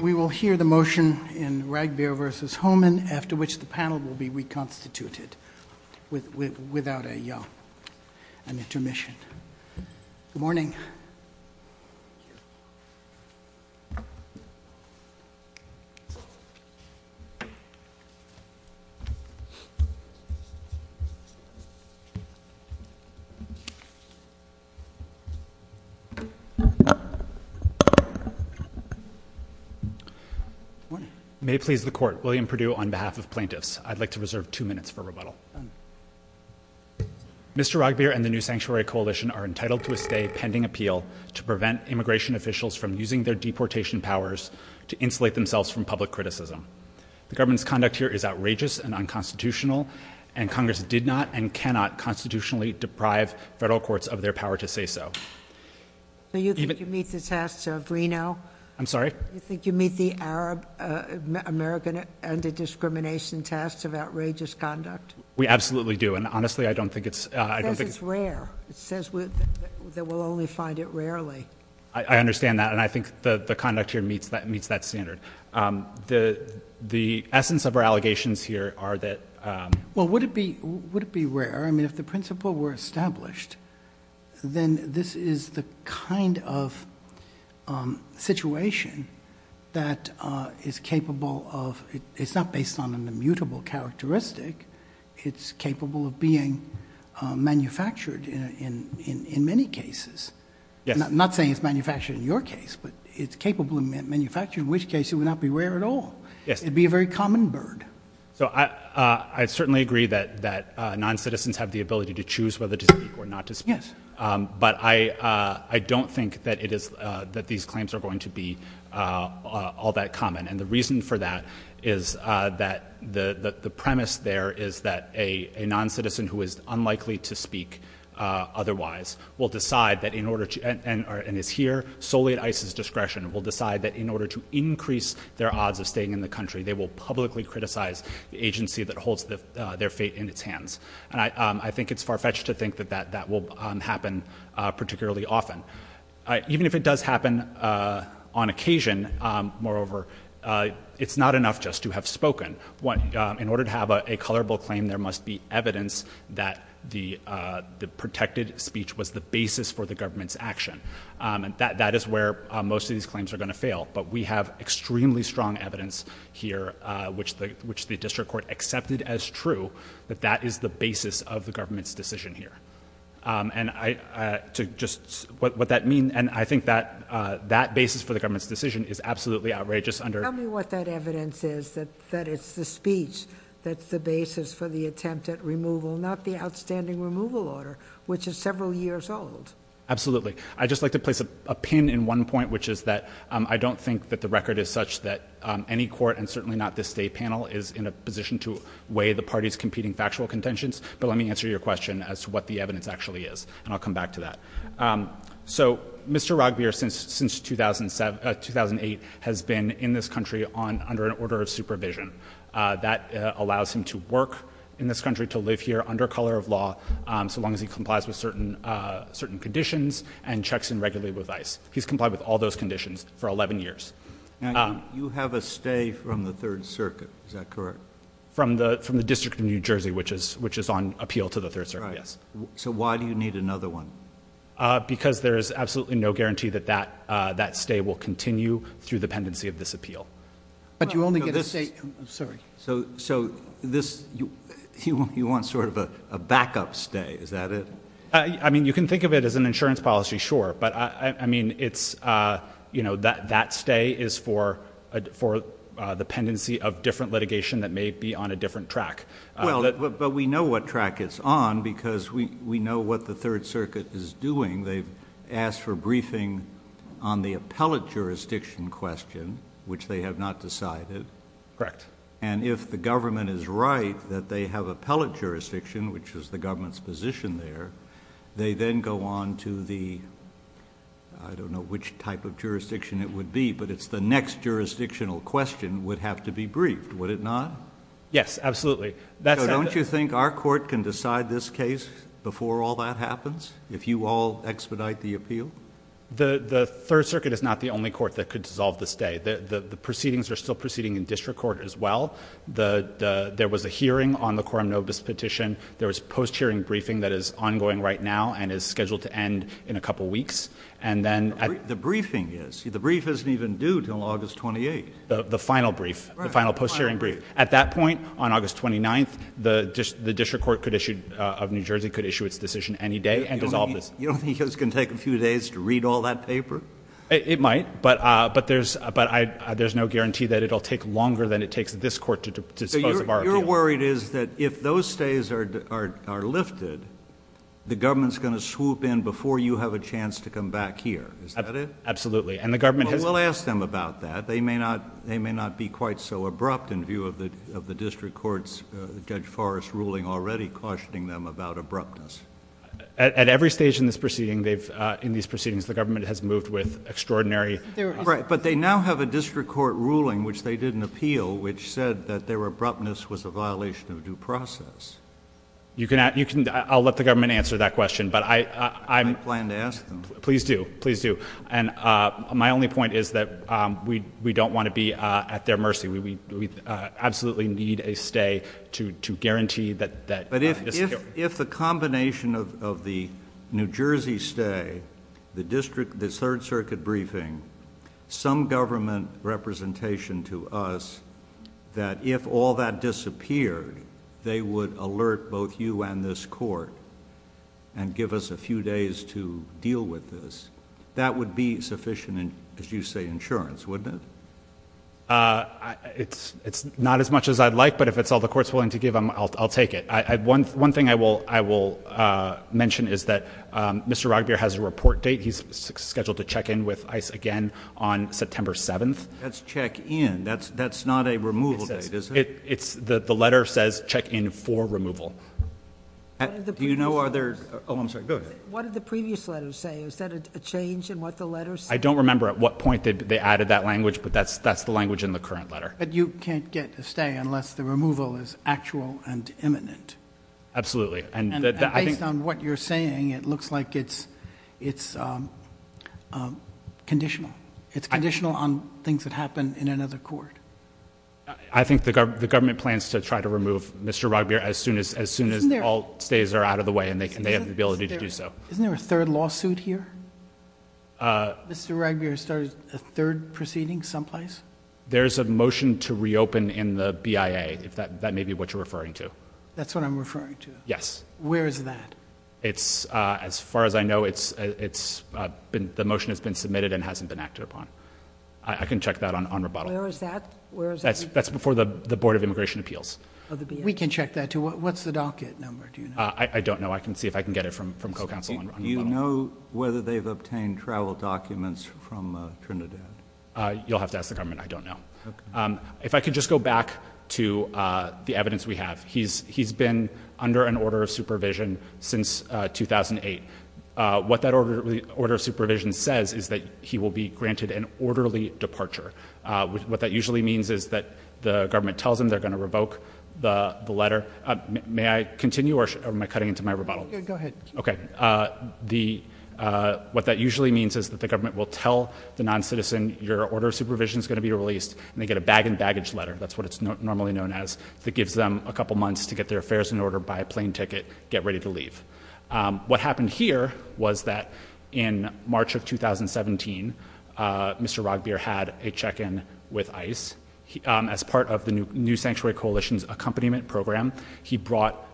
We will hear the motion in Ragbir v. Homan after which the panel will be reconstituted without an intermission. Good morning. May it please the court. William Perdue on behalf of plaintiffs. I'd like to reserve two minutes for rebuttal. Mr. Ragbir and the New Sanctuary Coalition are entitled to a stay pending appeal to prevent immigration officials from using their deportation powers to insulate themselves from public criticism. The government's conduct here is outrageous and unconstitutional and Congress did not and cannot constitutionally deprive federal courts of their power to say so. Do you think you meet the tasks of Reno? I'm sorry? Do you think you meet the Arab American and the discrimination tasks of outrageous conduct? We absolutely do and honestly I don't think it's. Because it's rare. It says that we'll only find it rarely. I understand that and I think the the conduct here meets that meets that standard. The the essence of our allegations here are that. Well would it be would it be rare I mean if the principle were established then this is the kind of situation that is capable of it's not based on an immutable characteristic. It's capable of being manufactured in in in many cases. Yes. I'm not saying it's manufactured in your case but it's capable of manufacturing which case it would not be rare at all. Yes. It'd be a very common bird. So I I certainly agree that that non-citizens have the ability to choose whether to I don't think that it is that these claims are going to be all that common and the reason for that is that the the premise there is that a non-citizen who is unlikely to speak otherwise will decide that in order to and is here solely at ICE's discretion will decide that in order to increase their odds of staying in the country they will publicly criticize the agency that holds their fate in its hands. And I I think it's far-fetched to think that that that will happen particularly often. Even if it does happen on occasion moreover it's not enough just to have spoken what in order to have a colorable claim there must be evidence that the the protected speech was the basis for the government's action and that that is where most of these claims are going to fail but we have extremely strong evidence here which the which the district court accepted as true that that is the basis of the government's decision here and I to just what that mean and I think that that basis for the government's decision is absolutely outrageous under what that evidence is that that it's the speech that's the basis for the attempt at removal not the outstanding removal order which is several years old absolutely I just like to place a pin in one point which is that I don't think that the record is such that any court and certainly not this day panel is in a position to weigh the party's competing factual contentions but let me answer your question as to what the evidence actually is and I'll come back to that so mr. rugby or since since 2007 2008 has been in this country on under an order of supervision that allows him to work in this country to live here under color of law so long as he complies with certain certain conditions and checks in regularly with ice he's complied with all those conditions for 11 years you have a stay from the Third Circuit is that correct from the from the District of New Jersey which is which is on appeal to the third sir yes so why do you need another one because there is absolutely no guarantee that that that stay will continue through the pendency of this appeal but you only get a state I'm sorry so so this you you want sort of a backup stay is that it I mean you can think of it as an insurance policy sure but I mean it's you know that that stay is for for the pendency of different litigation that may be on a but we know what track it's on because we we know what the Third Circuit is doing they've asked for briefing on the appellate jurisdiction question which they have not decided correct and if the government is right that they have appellate jurisdiction which is the government's position there they then go on to the I don't know which type of jurisdiction it would be but it's the next jurisdictional question would have to be briefed would it not yes absolutely that's don't you think our court can decide this case before all that happens if you all expedite the appeal the the Third Circuit is not the only court that could dissolve this day the the proceedings are still proceeding in district court as well the there was a hearing on the quorum nobis petition there was post hearing briefing that is ongoing right now and is scheduled to end in a couple weeks and then the briefing is the brief isn't even due till August 28 the final brief the final post hearing brief at that point on August 29th the just the district court could issue of New Jersey could issue its decision any day and dissolve this you don't think it's gonna take a few days to read all that paper it might but but there's but I there's no guarantee that it'll take longer than it takes this court to dispose of our worried is that if those stays are lifted the government's gonna swoop in before you have a chance to come back here is that it absolutely and the government will ask them about that they may not they may not be quite so abrupt in view of the of the district courts judge Forrest ruling already cautioning them about abruptness at every stage in this proceeding they've in these proceedings the government has moved with extraordinary right but they now have a district court ruling which they didn't appeal which said that there were abruptness was a violation of due process you can ask you can I'll let the government answer that question but I I'm plan to ask them please do please do and my only point is that we we don't want to be at their mercy we we absolutely need a stay to to guarantee that but if the combination of the New Jersey stay the district this Third Circuit briefing some government representation to us that if all that disappeared they would alert both you and this court and give us a few days to deal with this that would be sufficient as you say insurance wouldn't it it's it's not as much as I'd like but if it's all the courts willing to give them I'll take it I had one one thing I will I will mention is that mr. Rock beer has a report date he's scheduled to check in with ice again on September 7th that's check-in that's that's not a removal it's that the letter says check-in for removal do you know are there oh I'm sorry go ahead what did the previous letter say is that a change in what the letters I don't remember at what point did they added that language but that's that's the language in the current letter but you can't get to stay unless the removal is actual and imminent absolutely and based on what you're saying it looks like it's it's conditional it's conditional on things that happen in another court I think the government plans to try to remove mr. rock beer as soon as as soon as all stays are out of the way and they can be able to do so isn't there a third lawsuit here mr. regular started a third proceeding someplace there's a motion to reopen in the BIA if that that may be what you're referring to that's what I'm referring to yes where is that it's as far as I know it's it's been the motion has been submitted and hasn't been acted upon I can check that on on rebuttal is that that's that's before the the Board of Immigration Appeals we can check that too what's the docket number do you know I don't know I can see if I can get it from from co-counsel you know whether they've obtained travel documents from Trinidad you'll have to ask the government I don't know if I could just go back to the evidence we have he's he's been under an order of supervision since 2008 what that order the order of supervision says is that he will be granted an orderly departure what that usually means is that the government tells him they're going to my rebuttal okay the what that usually means is that the government will tell the non-citizen your order of supervision is going to be released and they get a bag and baggage letter that's what it's normally known as that gives them a couple months to get their affairs in order by a plane ticket get ready to leave what happened here was that in March of 2017 mr. Rogge beer had a check-in with ice as part of the new sanctuary coalition's accompaniment program he brought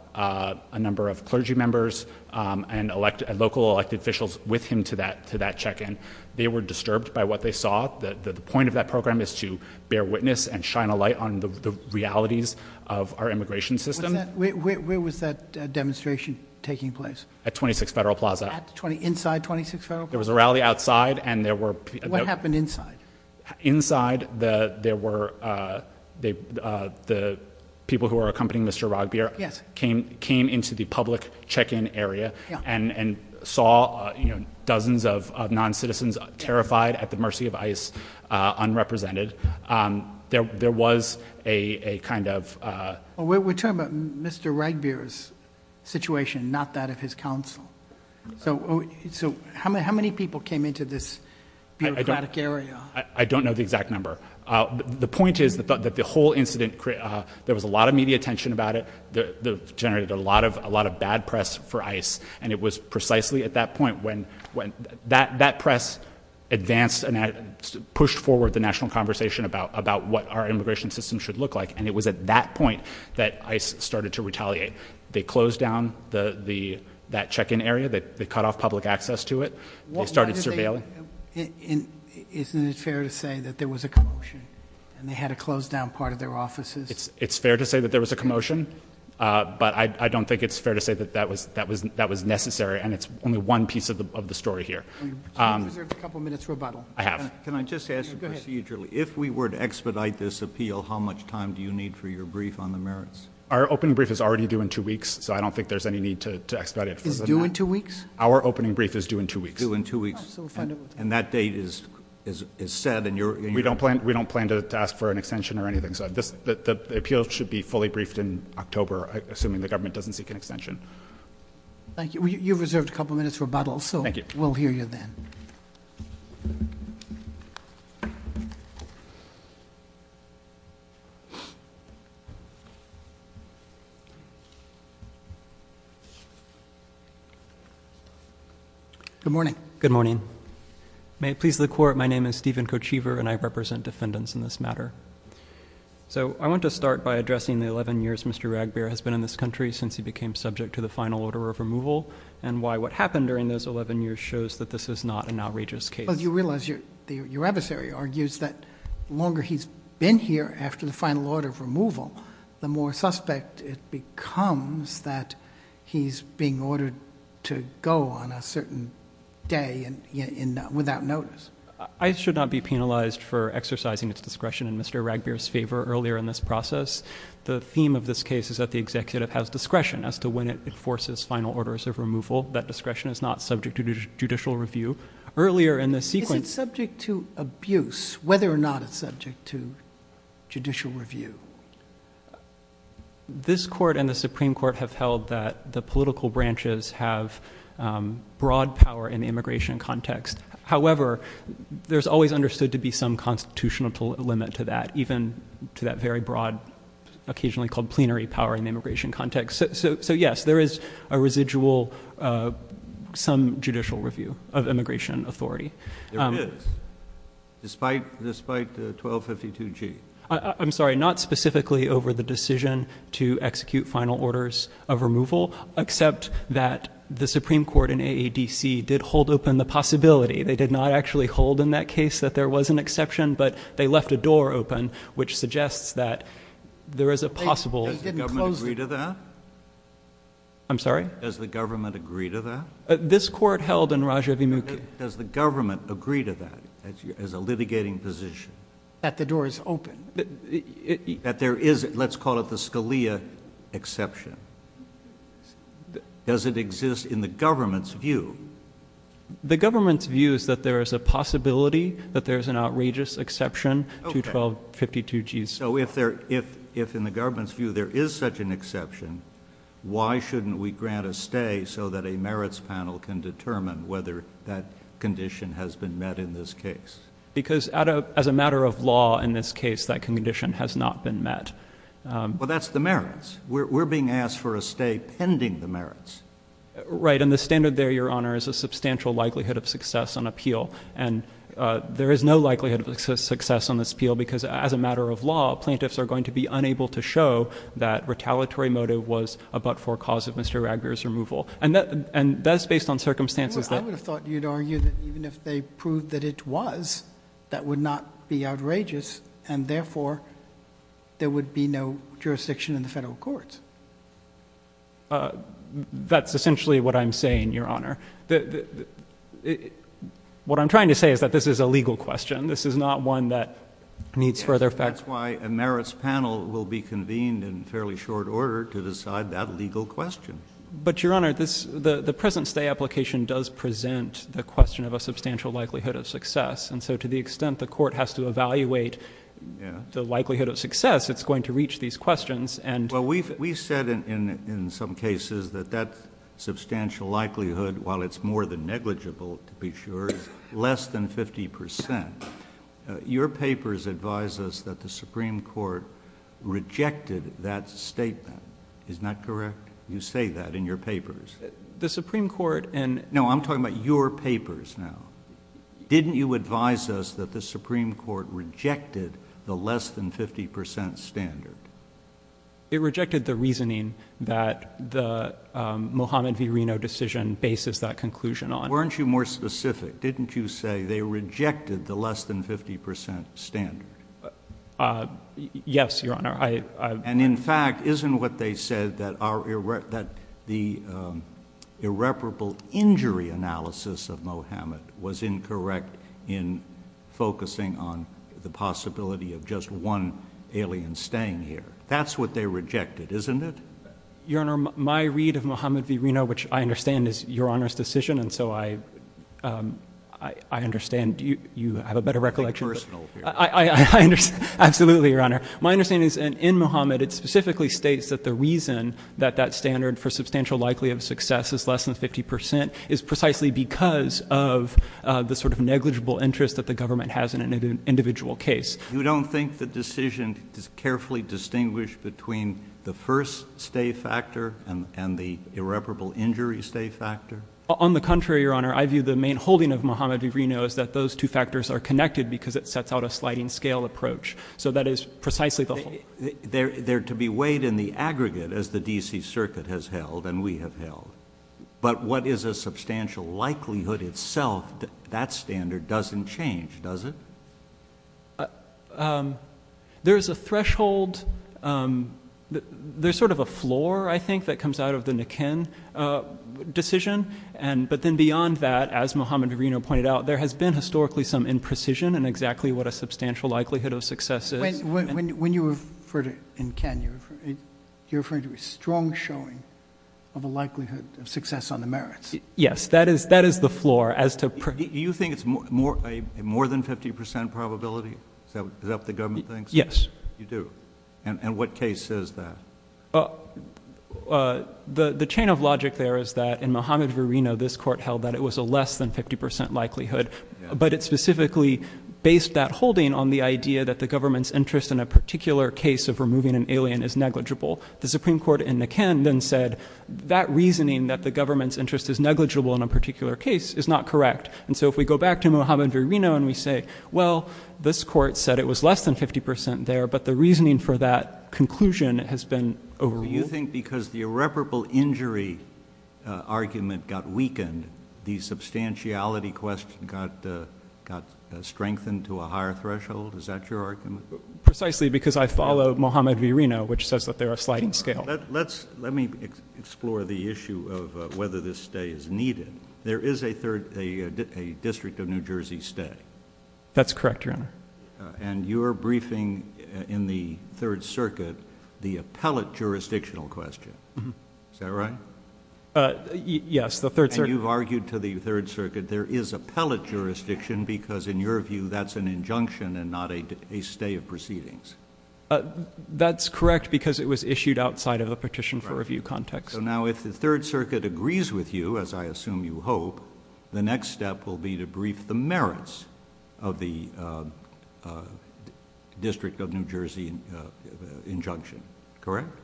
a number of clergy members and elected local elected officials with him to that to that check-in they were disturbed by what they saw that the point of that program is to bear witness and shine a light on the realities of our immigration system where was that demonstration taking place at 26 Federal Plaza 20 inside 26 there was a rally outside and there were what happened inside inside the there were they the people who are accompanying mr. Rogge beer yes came came into the public check-in area and and saw you know dozens of non-citizens terrified at the mercy of ice unrepresented there there was a kind of we're talking about mr. right beers situation not that of his counsel so so how many how many people came into this area I don't know the exact number the point is that the whole incident there was a lot of media attention about it the generated a lot of a lot of bad press for ice and it was precisely at that point when when that that press advanced and pushed forward the national conversation about about what our immigration system should look like and it was at that point that I started to retaliate they closed down the the that check-in area that they cut off public access to it what started surveilling in isn't it fair to say that there was a commotion and they had to close down part of their offices it's it's fair to say that there was a commotion but I don't think it's fair to say that that was that was that was necessary and it's only one piece of the of the story here a couple minutes rebuttal I have can I just ask you procedurally if we were to expedite this appeal how much time do you need for your brief on the merits our open brief is already due in two weeks so I don't think there's any need to expedite is doing two weeks our opening brief is due in two weeks in two weeks and that date is is said and you're we don't plan we don't plan to ask for an extension or anything so this the appeal should be fully briefed in October assuming the government doesn't seek an extension thank you you've reserved a couple minutes rebuttal so thank you we'll hear you then good morning good morning may it please the court my name is Stephen Kochever and I represent defendants in this matter so I want to start by addressing the 11 years mr. Ragbear has been in this country since he became subject to the final order of removal and why what happened during those 11 years shows that this is not an outrageous case but you realize your your adversary argues that longer he's been here after the final order of removal the more suspect it becomes that he's being ordered to go on a certain day and you know without notice I should not be penalized for exercising its discretion and mr. Ragbear's favor earlier in this process the theme of this case is that the executive has discretion as to when it enforces final orders of removal that discretion is not subject to judicial review earlier in the sequence subject to abuse whether or not it's subject to judicial review this court and the Supreme Court have held that the political branches have broad power in the immigration context however there's always understood to be some constitutional to limit to that even to that very broad occasionally called plenary power in the immigration context so yes there is a residual some judicial review of immigration authority despite despite the 1252 G I'm sorry not specifically over the decision to execute final orders of removal except that the Supreme Court in a DC did hold open the possibility they did not actually hold in that case that there was an exception but they left a door open which suggests that there is a possible I'm sorry as the government agree to that this court held in Raja Vimukhi does the government agree to that as a litigating position that the door is open that there is let's call it the Scalia exception does it exist in the government's view the government's view is that there is a possibility that there's an outrageous exception to 1252 G's so if there if if in the government's view there is such an merits panel can determine whether that condition has been met in this case because as a matter of law in this case that condition has not been met well that's the merits we're being asked for a stay pending the merits right and the standard there your honor is a substantial likelihood of success on appeal and there is no likelihood of success on this appeal because as a matter of law plaintiffs are going to be unable to show that retaliatory motive was a but-for cause of mr. Agra's removal and that and that's based on circumstances that I would have thought you'd argue that even if they proved that it was that would not be outrageous and therefore there would be no jurisdiction in the federal courts that's essentially what I'm saying your honor the what I'm trying to say is that this is a legal question this is not one that needs further facts why a merits panel will be convened in fairly short order to decide that legal question but your honor this the the present-day application does present the question of a substantial likelihood of success and so to the extent the court has to evaluate the likelihood of success it's going to reach these questions and well we've we said in in some cases that that substantial likelihood while it's more than negligible to be sure less than 50% your papers advise us that the Supreme Court rejected that statement is not correct you say that in your papers the Supreme Court and no I'm talking about your papers now didn't you advise us that the Supreme Court rejected the less than 50% standard it rejected the reasoning that the Mohammed V Reno decision bases that conclusion on weren't you more specific didn't you say they rejected the less than 50% standard yes your honor I and in fact isn't what they said that are erect that the irreparable injury analysis of Mohammed was incorrect in focusing on the possibility of just one alien staying here that's what they rejected isn't it your honor my read of Mohammed V Reno which I understand is your honor's decision and so I I understand you you have a better recollection I absolutely your honor my understanding is an in Mohammed it specifically states that the reason that that standard for substantial likelihood of success is less than 50% is precisely because of the sort of negligible interest that the government has in an individual case you don't think the decision is carefully distinguished between the first stay factor and the irreparable injury stay factor on the contrary your honor I view the main holding of Mohammed V Reno is that those two factors are connected because it sets out a sliding scale approach so that is precisely the whole they're there to be weighed in the aggregate as the DC Circuit has held and we have held but what is a substantial likelihood itself that standard doesn't change does it there's a threshold there's sort of a floor I think that comes out of the Nikin decision and but then beyond that as Mohammed Reno pointed out there has been historically some imprecision and exactly what a substantial likelihood of success is when you refer to in Kenya you're referring to a strong showing of a likelihood of success on the merits yes that is that is the floor as to you think it's more more a more than 50% probability that the government thinks yes you do and what case is that the the chain of logic there is that in Mohammed V Reno this court held that it was a less than 50% likelihood but it specifically based that holding on the idea that the government's interest in a particular case of removing an alien is negligible the Supreme Court in the can then said that reasoning that the government's interest is negligible in a particular case is not correct and so if we go back to Mohammed V Reno and we say well this court said it was less than 50% there but the reasoning for that conclusion has been over you think because the irreparable injury argument got weakened the substantiality question got strengthened to a higher threshold is that your argument precisely because I follow Mohammed V Reno which says that they're a sliding scale let's let me explore the issue of whether this stay is needed there is a third a district of New Jersey stay that's correct your honor and your briefing in the Third Circuit the appellate jurisdictional question is that right yes the third you've argued to the Third Circuit there is a pellet jurisdiction because in your view that's an injunction and not a stay of proceedings that's correct because it was issued outside of a petition for review context so now if the Third Circuit agrees with you as I assume you hope the next step will be to brief the merits of the District of New Jersey injunction correct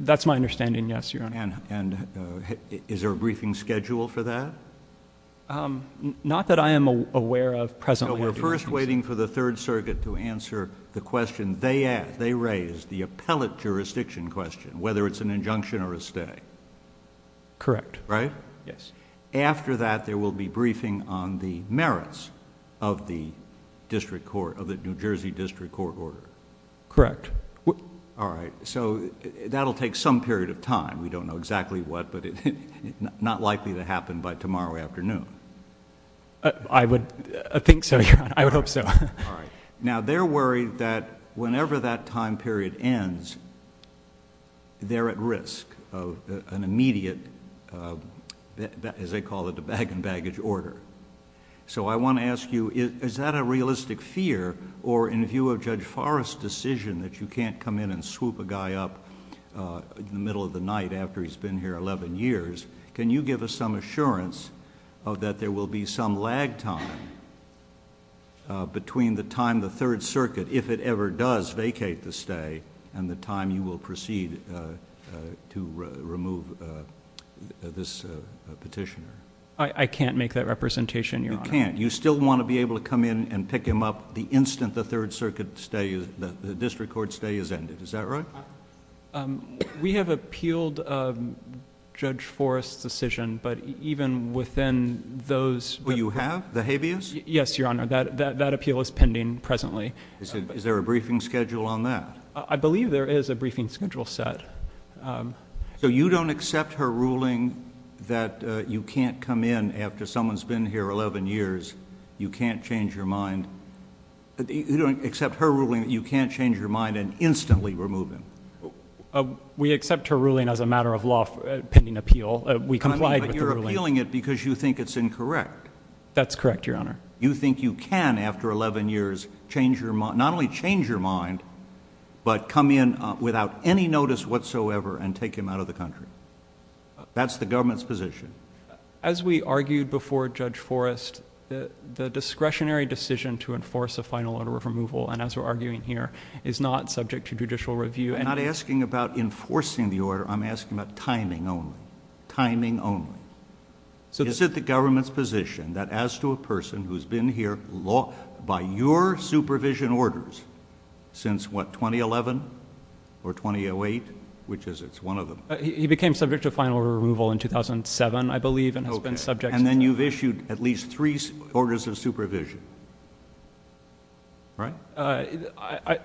that's my understanding yes your honor and and is there a briefing schedule for that not that I am aware of present we're first waiting for the Third Circuit to answer the question they asked they raised the appellate jurisdiction question whether it's an injunction or a stay correct right yes after that there will be briefing on the merits of the district court of the New Jersey district court order correct what all right so that'll take some period of time we don't know exactly what but it's not likely to happen by tomorrow afternoon I would think so I would hope so all right now they're worried that whenever that time period ends they're at risk of an immediate as they call it a bag and baggage order so I want to ask you is that a realistic fear or in view of Judge Forrest decision that you can't come in and swoop a guy up in the middle of the night after he's been here 11 years can you give us some assurance of that there will be some lag time between the time the Third Circuit if it ever does vacate the stay and the time you will proceed to remove this petitioner I can't make that representation you can't you still want to be able to come in and pick him up the instant the Third Circuit stay is that the district court stay is ended is that right we have appealed Judge those who you have the habeas yes your honor that that appeal is pending presently is there a briefing schedule on that I believe there is a briefing schedule set so you don't accept her ruling that you can't come in after someone's been here 11 years you can't change your mind you don't accept her ruling that you can't change your mind and instantly remove him we accept her ruling as a matter of law pending appeal we complied you're appealing it because you think it's incorrect that's correct your honor you think you can after 11 years change your mind not only change your mind but come in without any notice whatsoever and take him out of the country that's the government's position as we argued before Judge Forrest the discretionary decision to enforce a final order of removal and as we're arguing here is not subject to judicial review and not asking about enforcing the order I'm asking about timing only so this is the government's position that as to a person who's been here law by your supervision orders since what 2011 or 2008 which is it's one of them he became subject to final removal in 2007 I believe and has been subject and then you've issued at least three orders of supervision right I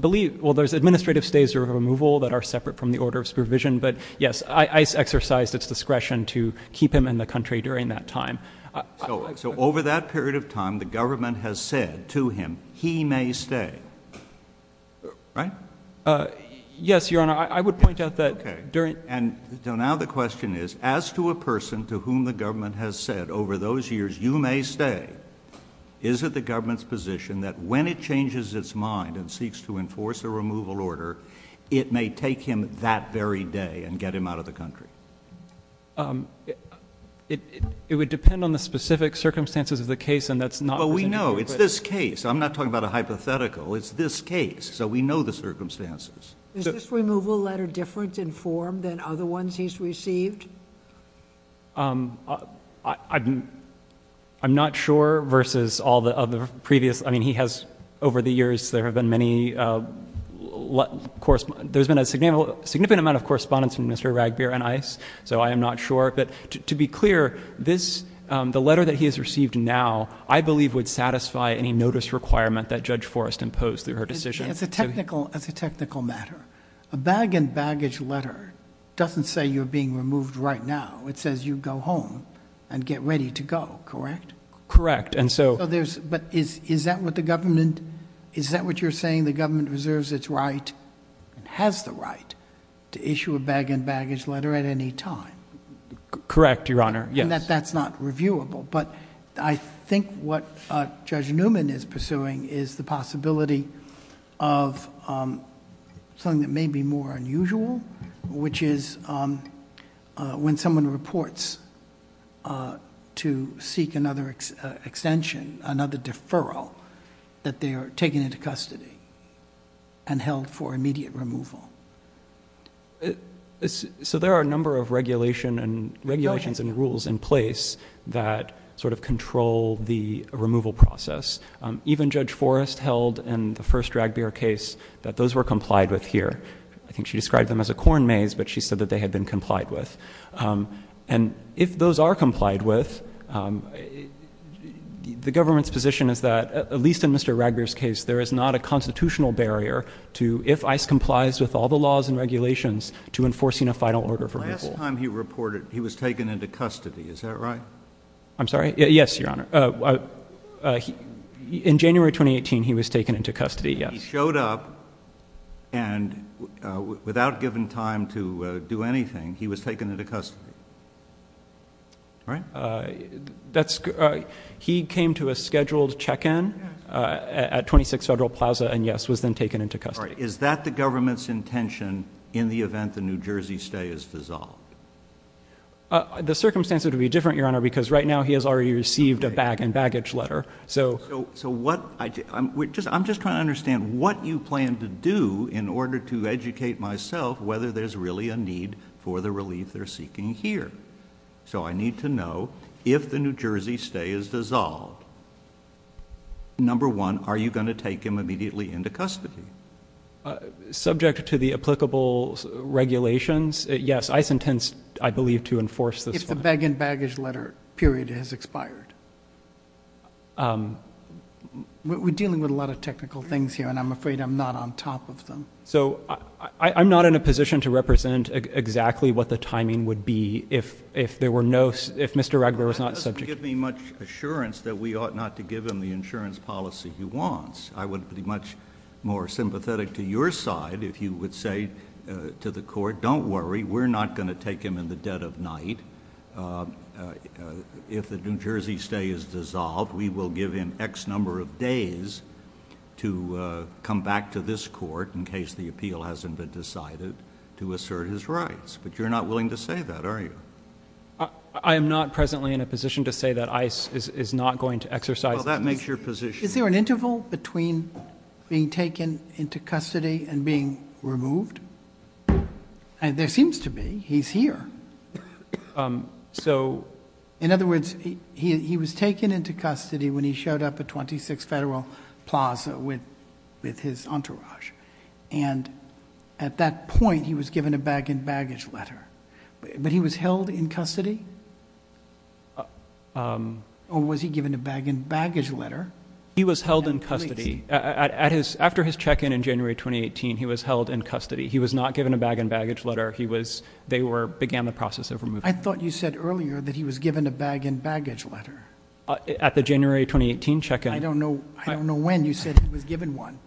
believe well there's administrative stays or removal that are separate from the order of supervision but yes I exercised its discretion to keep him in the country during that time so over that period of time the government has said to him he may stay right yes your honor I would point out that during and so now the question is as to a person to whom the government has said over those years you may stay is it the government's position that when it changes its mind and seeks to and get him out of the country it would depend on the specific circumstances of the case and that's not what we know it's this case I'm not talking about a hypothetical it's this case so we know the circumstances this removal letter different in form than other ones he's received I'm not sure versus all the other previous I mean he has over the years there have been many course there's been a signal significant amount of correspondence from mr. Ragbear and ice so I am not sure but to be clear this the letter that he has received now I believe would satisfy any notice requirement that judge Forrest imposed through her decision it's a technical as a technical matter a bag and baggage letter doesn't say you're being removed right now it says you go home and get ready to go correct correct and so there's but is is that what the government is that what you're saying the government reserves its right and has the right to issue a bag and baggage letter at any time correct your honor yes that's not reviewable but I think what judge Newman is pursuing is the possibility of something that may be more unusual which is when someone reports to seek another extension another deferral that they are taken into custody and held for immediate removal so there are a number of regulation and regulations and rules in place that sort of control the removal process even judge Forrest held and the first drag beer case that those were complied with here I think she described them as a corn maze but she said that they had been complied with and if those are complied with the government's position is that at least in mr. raggers case there is not a constitutional barrier to if ice complies with all the laws and regulations to enforcing a final order for last time he reported he was taken into custody is that right I'm sorry yes your honor in January 2018 he was taken into custody he showed up and without given time to do anything he was taken into custody right that's he came to a scheduled check-in at 26 Federal Plaza and yes was then taken into custody is that the government's intention in the event the New Jersey stay is dissolved the circumstances would be different your honor because right now he has already received a bag and baggage letter so so what I'm just trying to understand what you plan to do in order to educate myself whether there's really a need for the relief they're seeking here so I need to know if the New Jersey stay is dissolved number one are you going to take him immediately into custody subject to the applicable regulations yes I sentence I believe to enforce this bag and baggage letter period has expired we're dealing with a lot of technical things here and I'm afraid I'm not on top of them so I'm not in a position to represent exactly what the timing would be if if there were no if mr. regular was not subject to give me much assurance that we ought not to give him the insurance policy he wants I would be much more sympathetic to your side if you would say to the court don't worry we're not going to take him in the dead of night if the New Jersey stay is dissolved we will give him X number of days to come back to this court in case the appeal hasn't been decided to assert his rights but you're not willing to say that are you I am not presently in a position to say that ice is not going to exercise that makes your position is there an interval between being taken into custody and being removed and there seems to be he's here so in other words he was taken into custody when he showed up at 26 Federal Plaza with with his entourage and at that point he was given a bag and baggage letter but he was held in custody or was he given a bag and baggage letter he was held in custody at his after his check-in in January 2018 he was held in custody he was not given a bag and baggage letter he was they were began the process of removing I thought you said earlier that he was given a bag and baggage letter at the January 2018 check and I don't know I don't know when you said he was given one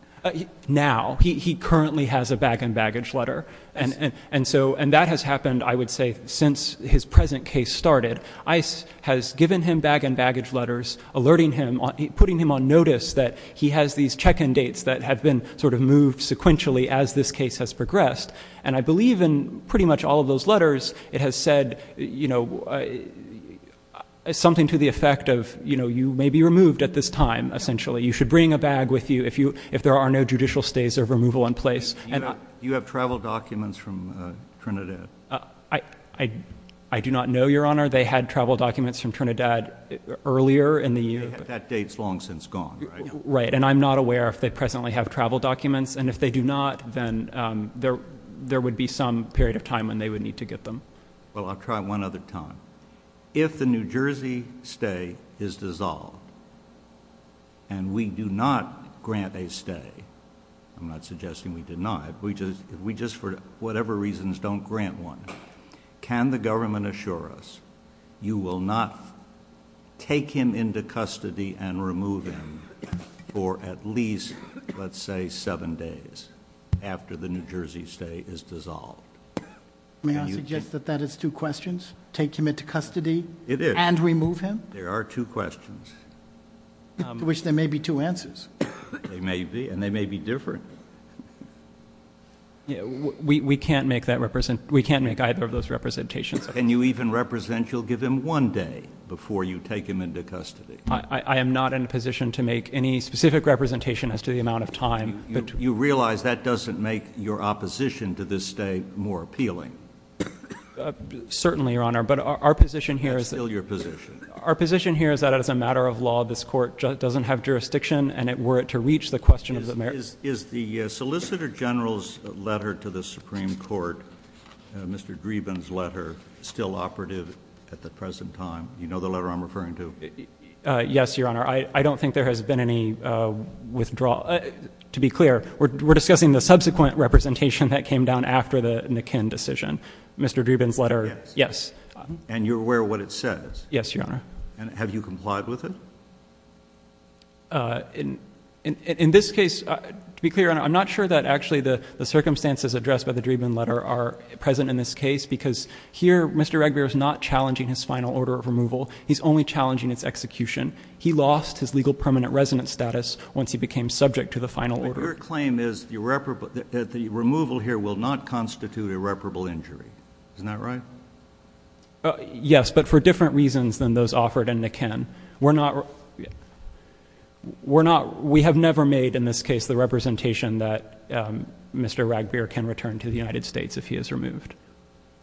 now he currently has a bag and baggage letter and and so and that has happened I would say since his present case started ice has given him bag and baggage letters alerting him on putting him on notice that he has these check-in dates that have been sort of moved sequentially as this case has progressed and I believe in pretty much all of those letters it has said you know something to the effect of you know you may be removed at this time essentially you should bring a bag with you if you if there are no judicial stays of removal in place and you have travel documents from Trinidad I I do not know your honor they had travel documents from Trinidad earlier in the year that dates long since gone right and I'm not aware if they presently have travel documents and if they do not then there there would be some period of time when they would need to get them well I'll try one other time if the New Jersey stay is dissolved and we do not grant a stay I'm not suggesting we did not we just we just for whatever reasons don't grant one can the government assure us you will not take him into custody and remove him for at least let's say seven days after the New Jersey stay is dissolved may I suggest that that is two questions take him into custody it is and remove him there are two questions which there may be two answers they may be and they may be different yeah we can't make that represent we can't make either of those representations and you even represent you'll give him one day before you take him into custody I am not in a position to make any specific representation as to the amount of time but you realize that doesn't make your opposition to this day more appealing certainly your honor but our position here is still your position our position here is that as a matter of law this court doesn't have jurisdiction and it were it to reach the question of the merits is the solicitor general's letter to the Supreme Court mr. Dreeben's letter still operative at the present time you know the letter I'm referring to yes your honor I don't think there has been any withdrawal to be clear we're discussing the subsequent representation that came down after the Nikin decision mr. Dreeben's letter yes and you're aware what it says yes your honor and have you complied with it in in this case to be clear I'm not sure that actually the the circumstances addressed by the Dreeben letter are present in this case because here mr. reg beer is not challenging his final order of removal he's only challenging its execution he lost his legal permanent resident status once he became subject to the final order claim is irreparable that the removal here will not constitute irreparable injury isn't that right yes but for different reasons than those offered in the Ken we're not we're not we have never made in this case the representation that mr. rag beer can return to the United States if he is removed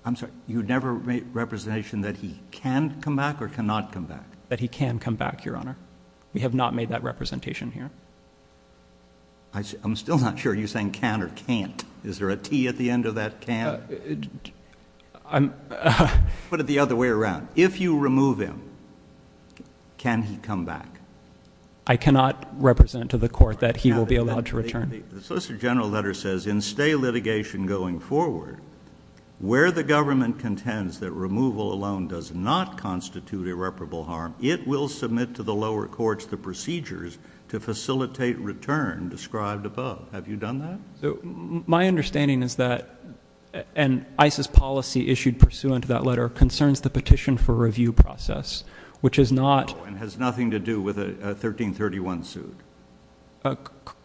I'm sorry you never made representation that he can come back or cannot come back that he can come back your honor we have not made that representation here I'm still not sure you saying can or can't is there a T at the end of that can I'm put it the other way around if you remove him can he come back I cannot represent to the court that he will be allowed to return the Solicitor General letter says in stay litigation going forward where the government contends that removal alone does not constitute irreparable harm it will submit to the lower courts the procedures to facilitate return have you done that my understanding is that an ISIS policy issued pursuant to that letter concerns the petition for review process which is not has nothing to do with a 1331 suit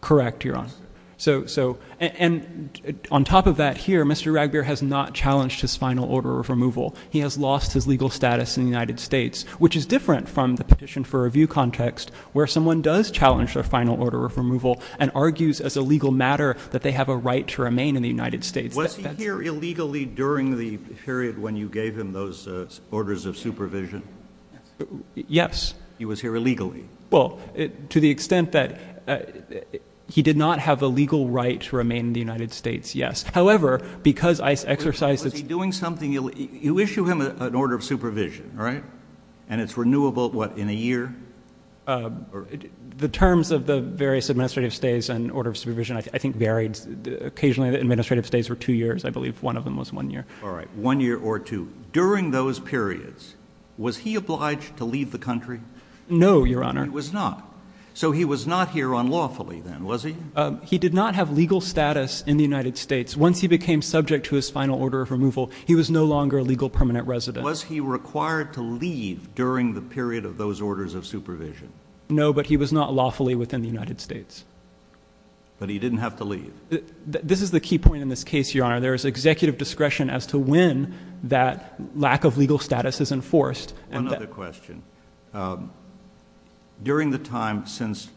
correct your honor so so and on top of that here mr. rag beer has not challenged his final order of removal he has lost his legal status in the United States which is different from the petition for review and argues as a legal matter that they have a right to remain in the United States was here illegally during the period when you gave him those orders of supervision yes he was here illegally well to the extent that he did not have a legal right to remain in the United States yes however because I exercise that's doing something you issue him an order of supervision all right and it's new about what in a year the terms of the various administrative stays and order of supervision I think varied occasionally the administrative stays were two years I believe one of them was one year all right one year or two during those periods was he obliged to leave the country no your honor was not so he was not here unlawfully then was he he did not have legal status in the United States once he became subject to his final order of removal he was no longer legal permanent resident was he required to leave during the period of those orders of supervision no but he was not lawfully within the United States but he didn't have to leave this is the key point in this case your honor there is executive discretion as to when that lack of legal status is enforced and another question during the time since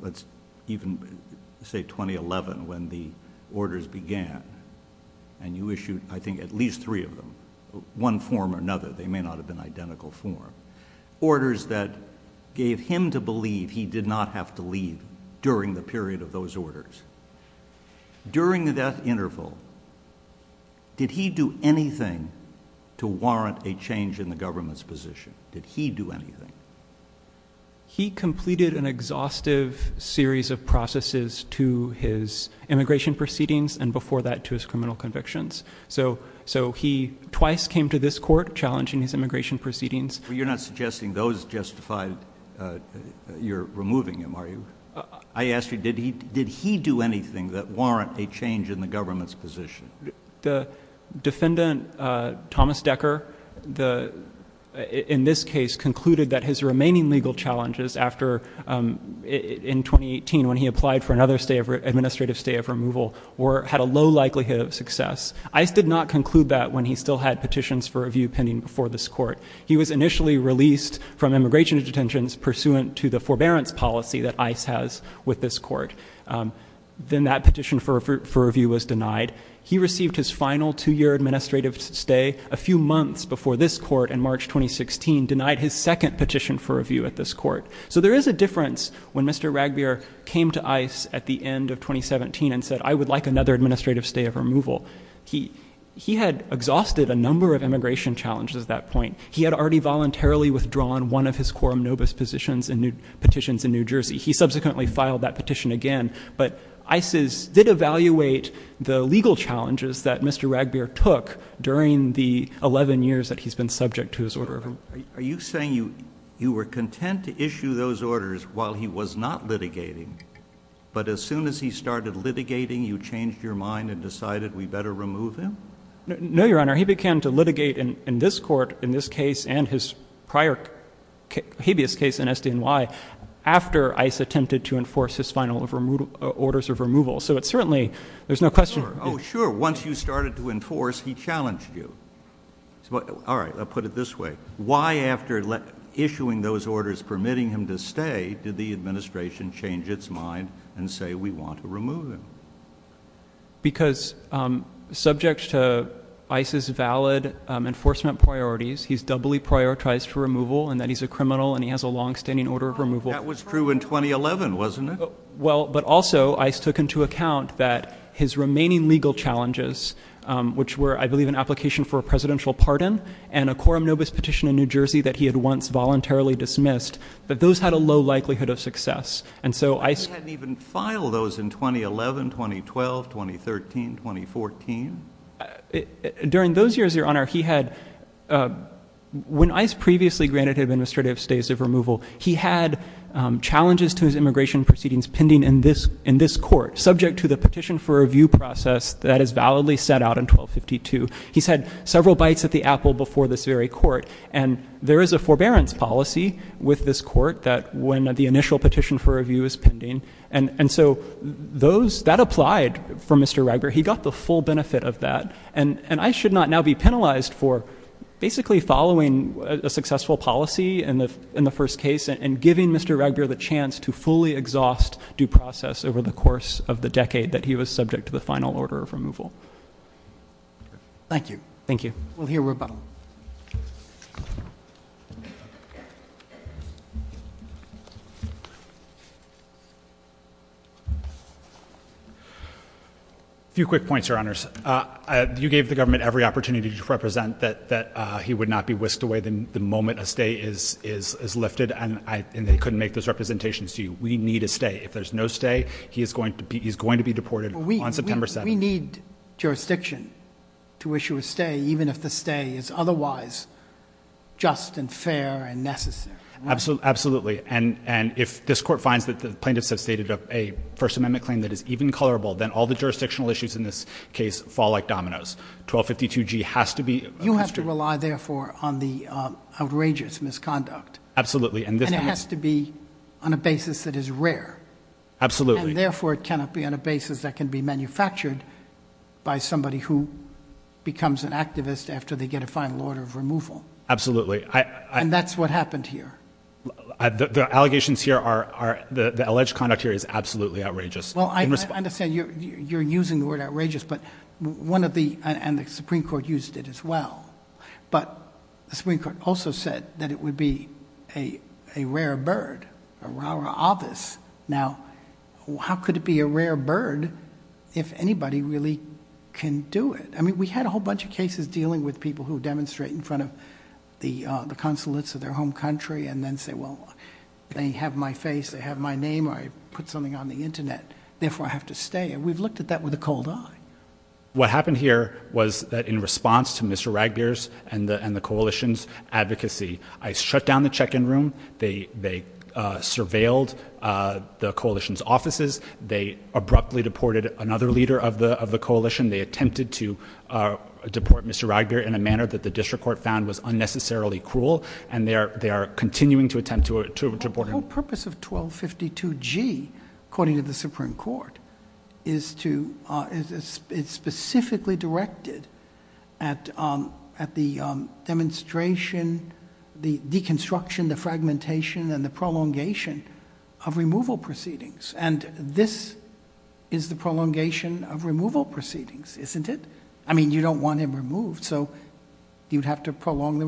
let's even say 2011 when the orders began and you issued I think at least three of them one form or another they may not have been identical form orders that gave him to believe he did not have to leave during the period of those orders during the death interval did he do anything to warrant a change in the government's position did he do anything he completed an exhaustive series of processes to his immigration proceedings and before that to his criminal convictions so so he twice came to this court challenging his immigration proceedings you're not suggesting those justified you're removing him are you I asked you did he did he do anything that warrant a change in the government's position the defendant Thomas Decker the in this case concluded that his remaining legal challenges after in 2018 when he applied for another state of administrative stay of removal or had a low likelihood of success I did not conclude that when he still had petitions for review pending before this court he was initially released from immigration detentions pursuant to the forbearance policy that ice has with this court then that petition for review was denied he received his final two year administrative stay a few months before this court in March 2016 denied his second petition for review at this court so there is a difference when mr. Ragbier came to ice at the end of 2017 and said I would like another administrative stay of removal he he had exhausted a number of immigration challenges at that point he had already voluntarily withdrawn one of his quorum nobis positions and new petitions in New Jersey he subsequently filed that petition again but Isis did evaluate the legal challenges that mr. Ragbier took during the 11 years that he's been subject to his order are you saying you were content to issue those orders while he was not litigating but as soon as he started litigating you changed your mind and decided we better remove him no your honor he began to litigate in in this court in this case and his prior habeas case in SDNY after ice attempted to enforce his final of removal orders of removal so it's certainly there's no question oh sure once you started to enforce he challenged you well all right I'll put it this way why after let issuing those orders permitting him to stay did the administration change its mind and say we want to remove him because subject to Isis valid enforcement priorities he's doubly prioritized for removal and that he's a criminal and he has a long-standing order of removal was true in 2011 wasn't it well but also ice took into account that his remaining legal challenges which were I believe an application for a presidential pardon and a quorum nobis petition in New Jersey that he had once voluntarily dismissed but those had a low likelihood of success and so I even file those in 2011 2012 2013 2014 during those years your honor he had when ice previously granted administrative stays of removal he had challenges to his immigration proceedings pending in this in this court subject to the petition for review process that is validly set out in 1252 he's had several bites at the apple before this very court and there is a forbearance policy with this court that when the initial petition for review is pending and and so those that applied for mr. Reger he got the full benefit of that and and I should not now be penalized for basically following a successful policy and in the first case and giving mr. Reger the chance to fully exhaust due process over the course of the decade that he was subject to the final order of removal thank you thank you well here we're about a few quick points your honors you gave the government every opportunity to represent that that he would not be whisked away than the moment a stay is is is lifted and I and they couldn't make those representations to you we need a stay if there's no stay he is going to be he's going to be deported we need jurisdiction to issue a stay even if the stay is otherwise just and fair and necessary absolutely and and if this court finds that the plaintiffs have stated of a First Amendment claim that is even colorable then all the jurisdictional issues in this case fall like dominoes 1252 G has to be you have to rely therefore on the outrageous misconduct absolutely and this has to be on a basis that is rare absolutely therefore it cannot be on a basis that can be manufactured by somebody who becomes an activist after they get a final order of removal absolutely I and that's what happened here the allegations here are the alleged conduct here is absolutely outrageous well I understand you're using the word outrageous but one of the and the Supreme Court used it as well but the Supreme Court also said that it would be a rare bird our office now how could it be a rare bird if anybody really can do it I mean we had a whole bunch of cases dealing with people who demonstrate in front of the consulates of their home country and then say well they have my face they have my name I put something on the internet therefore I have to stay and we've looked at that with a cold eye what happened here was that in response to mr. Raggers and the and the coalition's advocacy I shut down the check-in room they they surveilled the coalition's offices they abruptly deported another leader of the of the coalition they attempted to deport mr. Ragger in a manner that the district court found was unnecessarily cruel and they are they are continuing to attempt to it to a border purpose of 1252 G according to the Supreme Court is to it's specifically directed at at the demonstration the deconstruction the fragmentation and the prolongation of removal proceedings and this is the prolongation of removal proceedings isn't it I mean you don't want him removed so you'd have to prolong the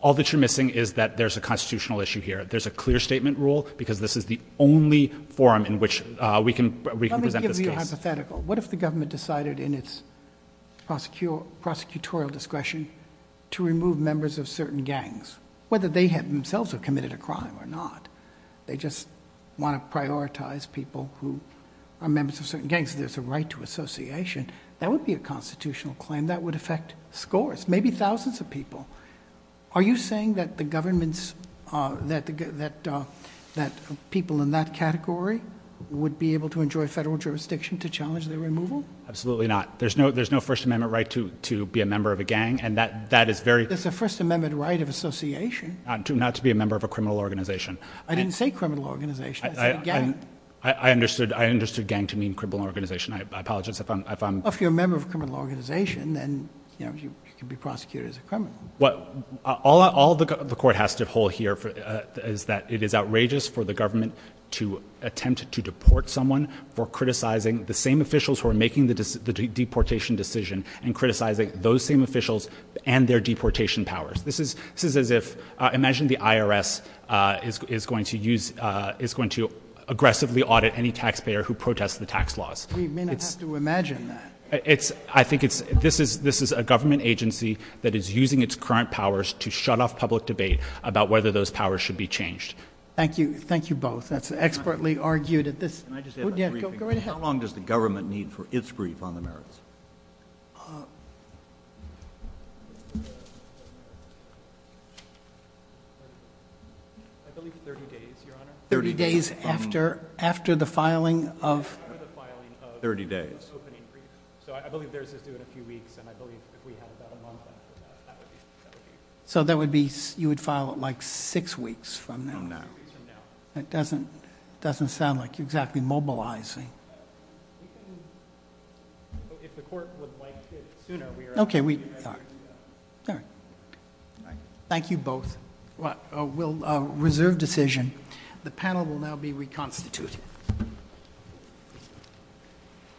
all that you're missing is that there's a constitutional issue here there's a clear statement rule because this is the only forum in which we can what if the government decided in its prosecute prosecutorial discretion to remove members of certain gangs whether they have themselves have committed a crime or not they just want to prioritize people who are members of certain gangs there's a right to association that would be a constitutional claim that would affect scores maybe thousands of people are you saying that the government's that that that people in that category would be able to enjoy federal jurisdiction to challenge their removal absolutely not there's no there's no First Amendment right to to be a member of a gang and that that is very that's a First Amendment right of association not to not to be a member of a criminal organization I didn't say criminal organization I understood I if you're a member of criminal organization then you know you can be prosecuted as a criminal what all the court has to hold here for is that it is outrageous for the government to attempt to deport someone for criticizing the same officials who are making the deportation decision and criticizing those same officials and their deportation powers this is this is as if imagine the IRS is going to use is going to aggressively audit any taxpayer who it's I think it's this is this is a government agency that is using its current powers to shut off public debate about whether those powers should be changed thank you thank you both that's expertly argued at this how long does the government need for its brief on the merits 30 days after after the filing of 30 days so that would be you would file it like six weeks from now it doesn't doesn't sound like you're exactly mobilizing okay we thank you both what will reserve decision the panel will now be reconstituted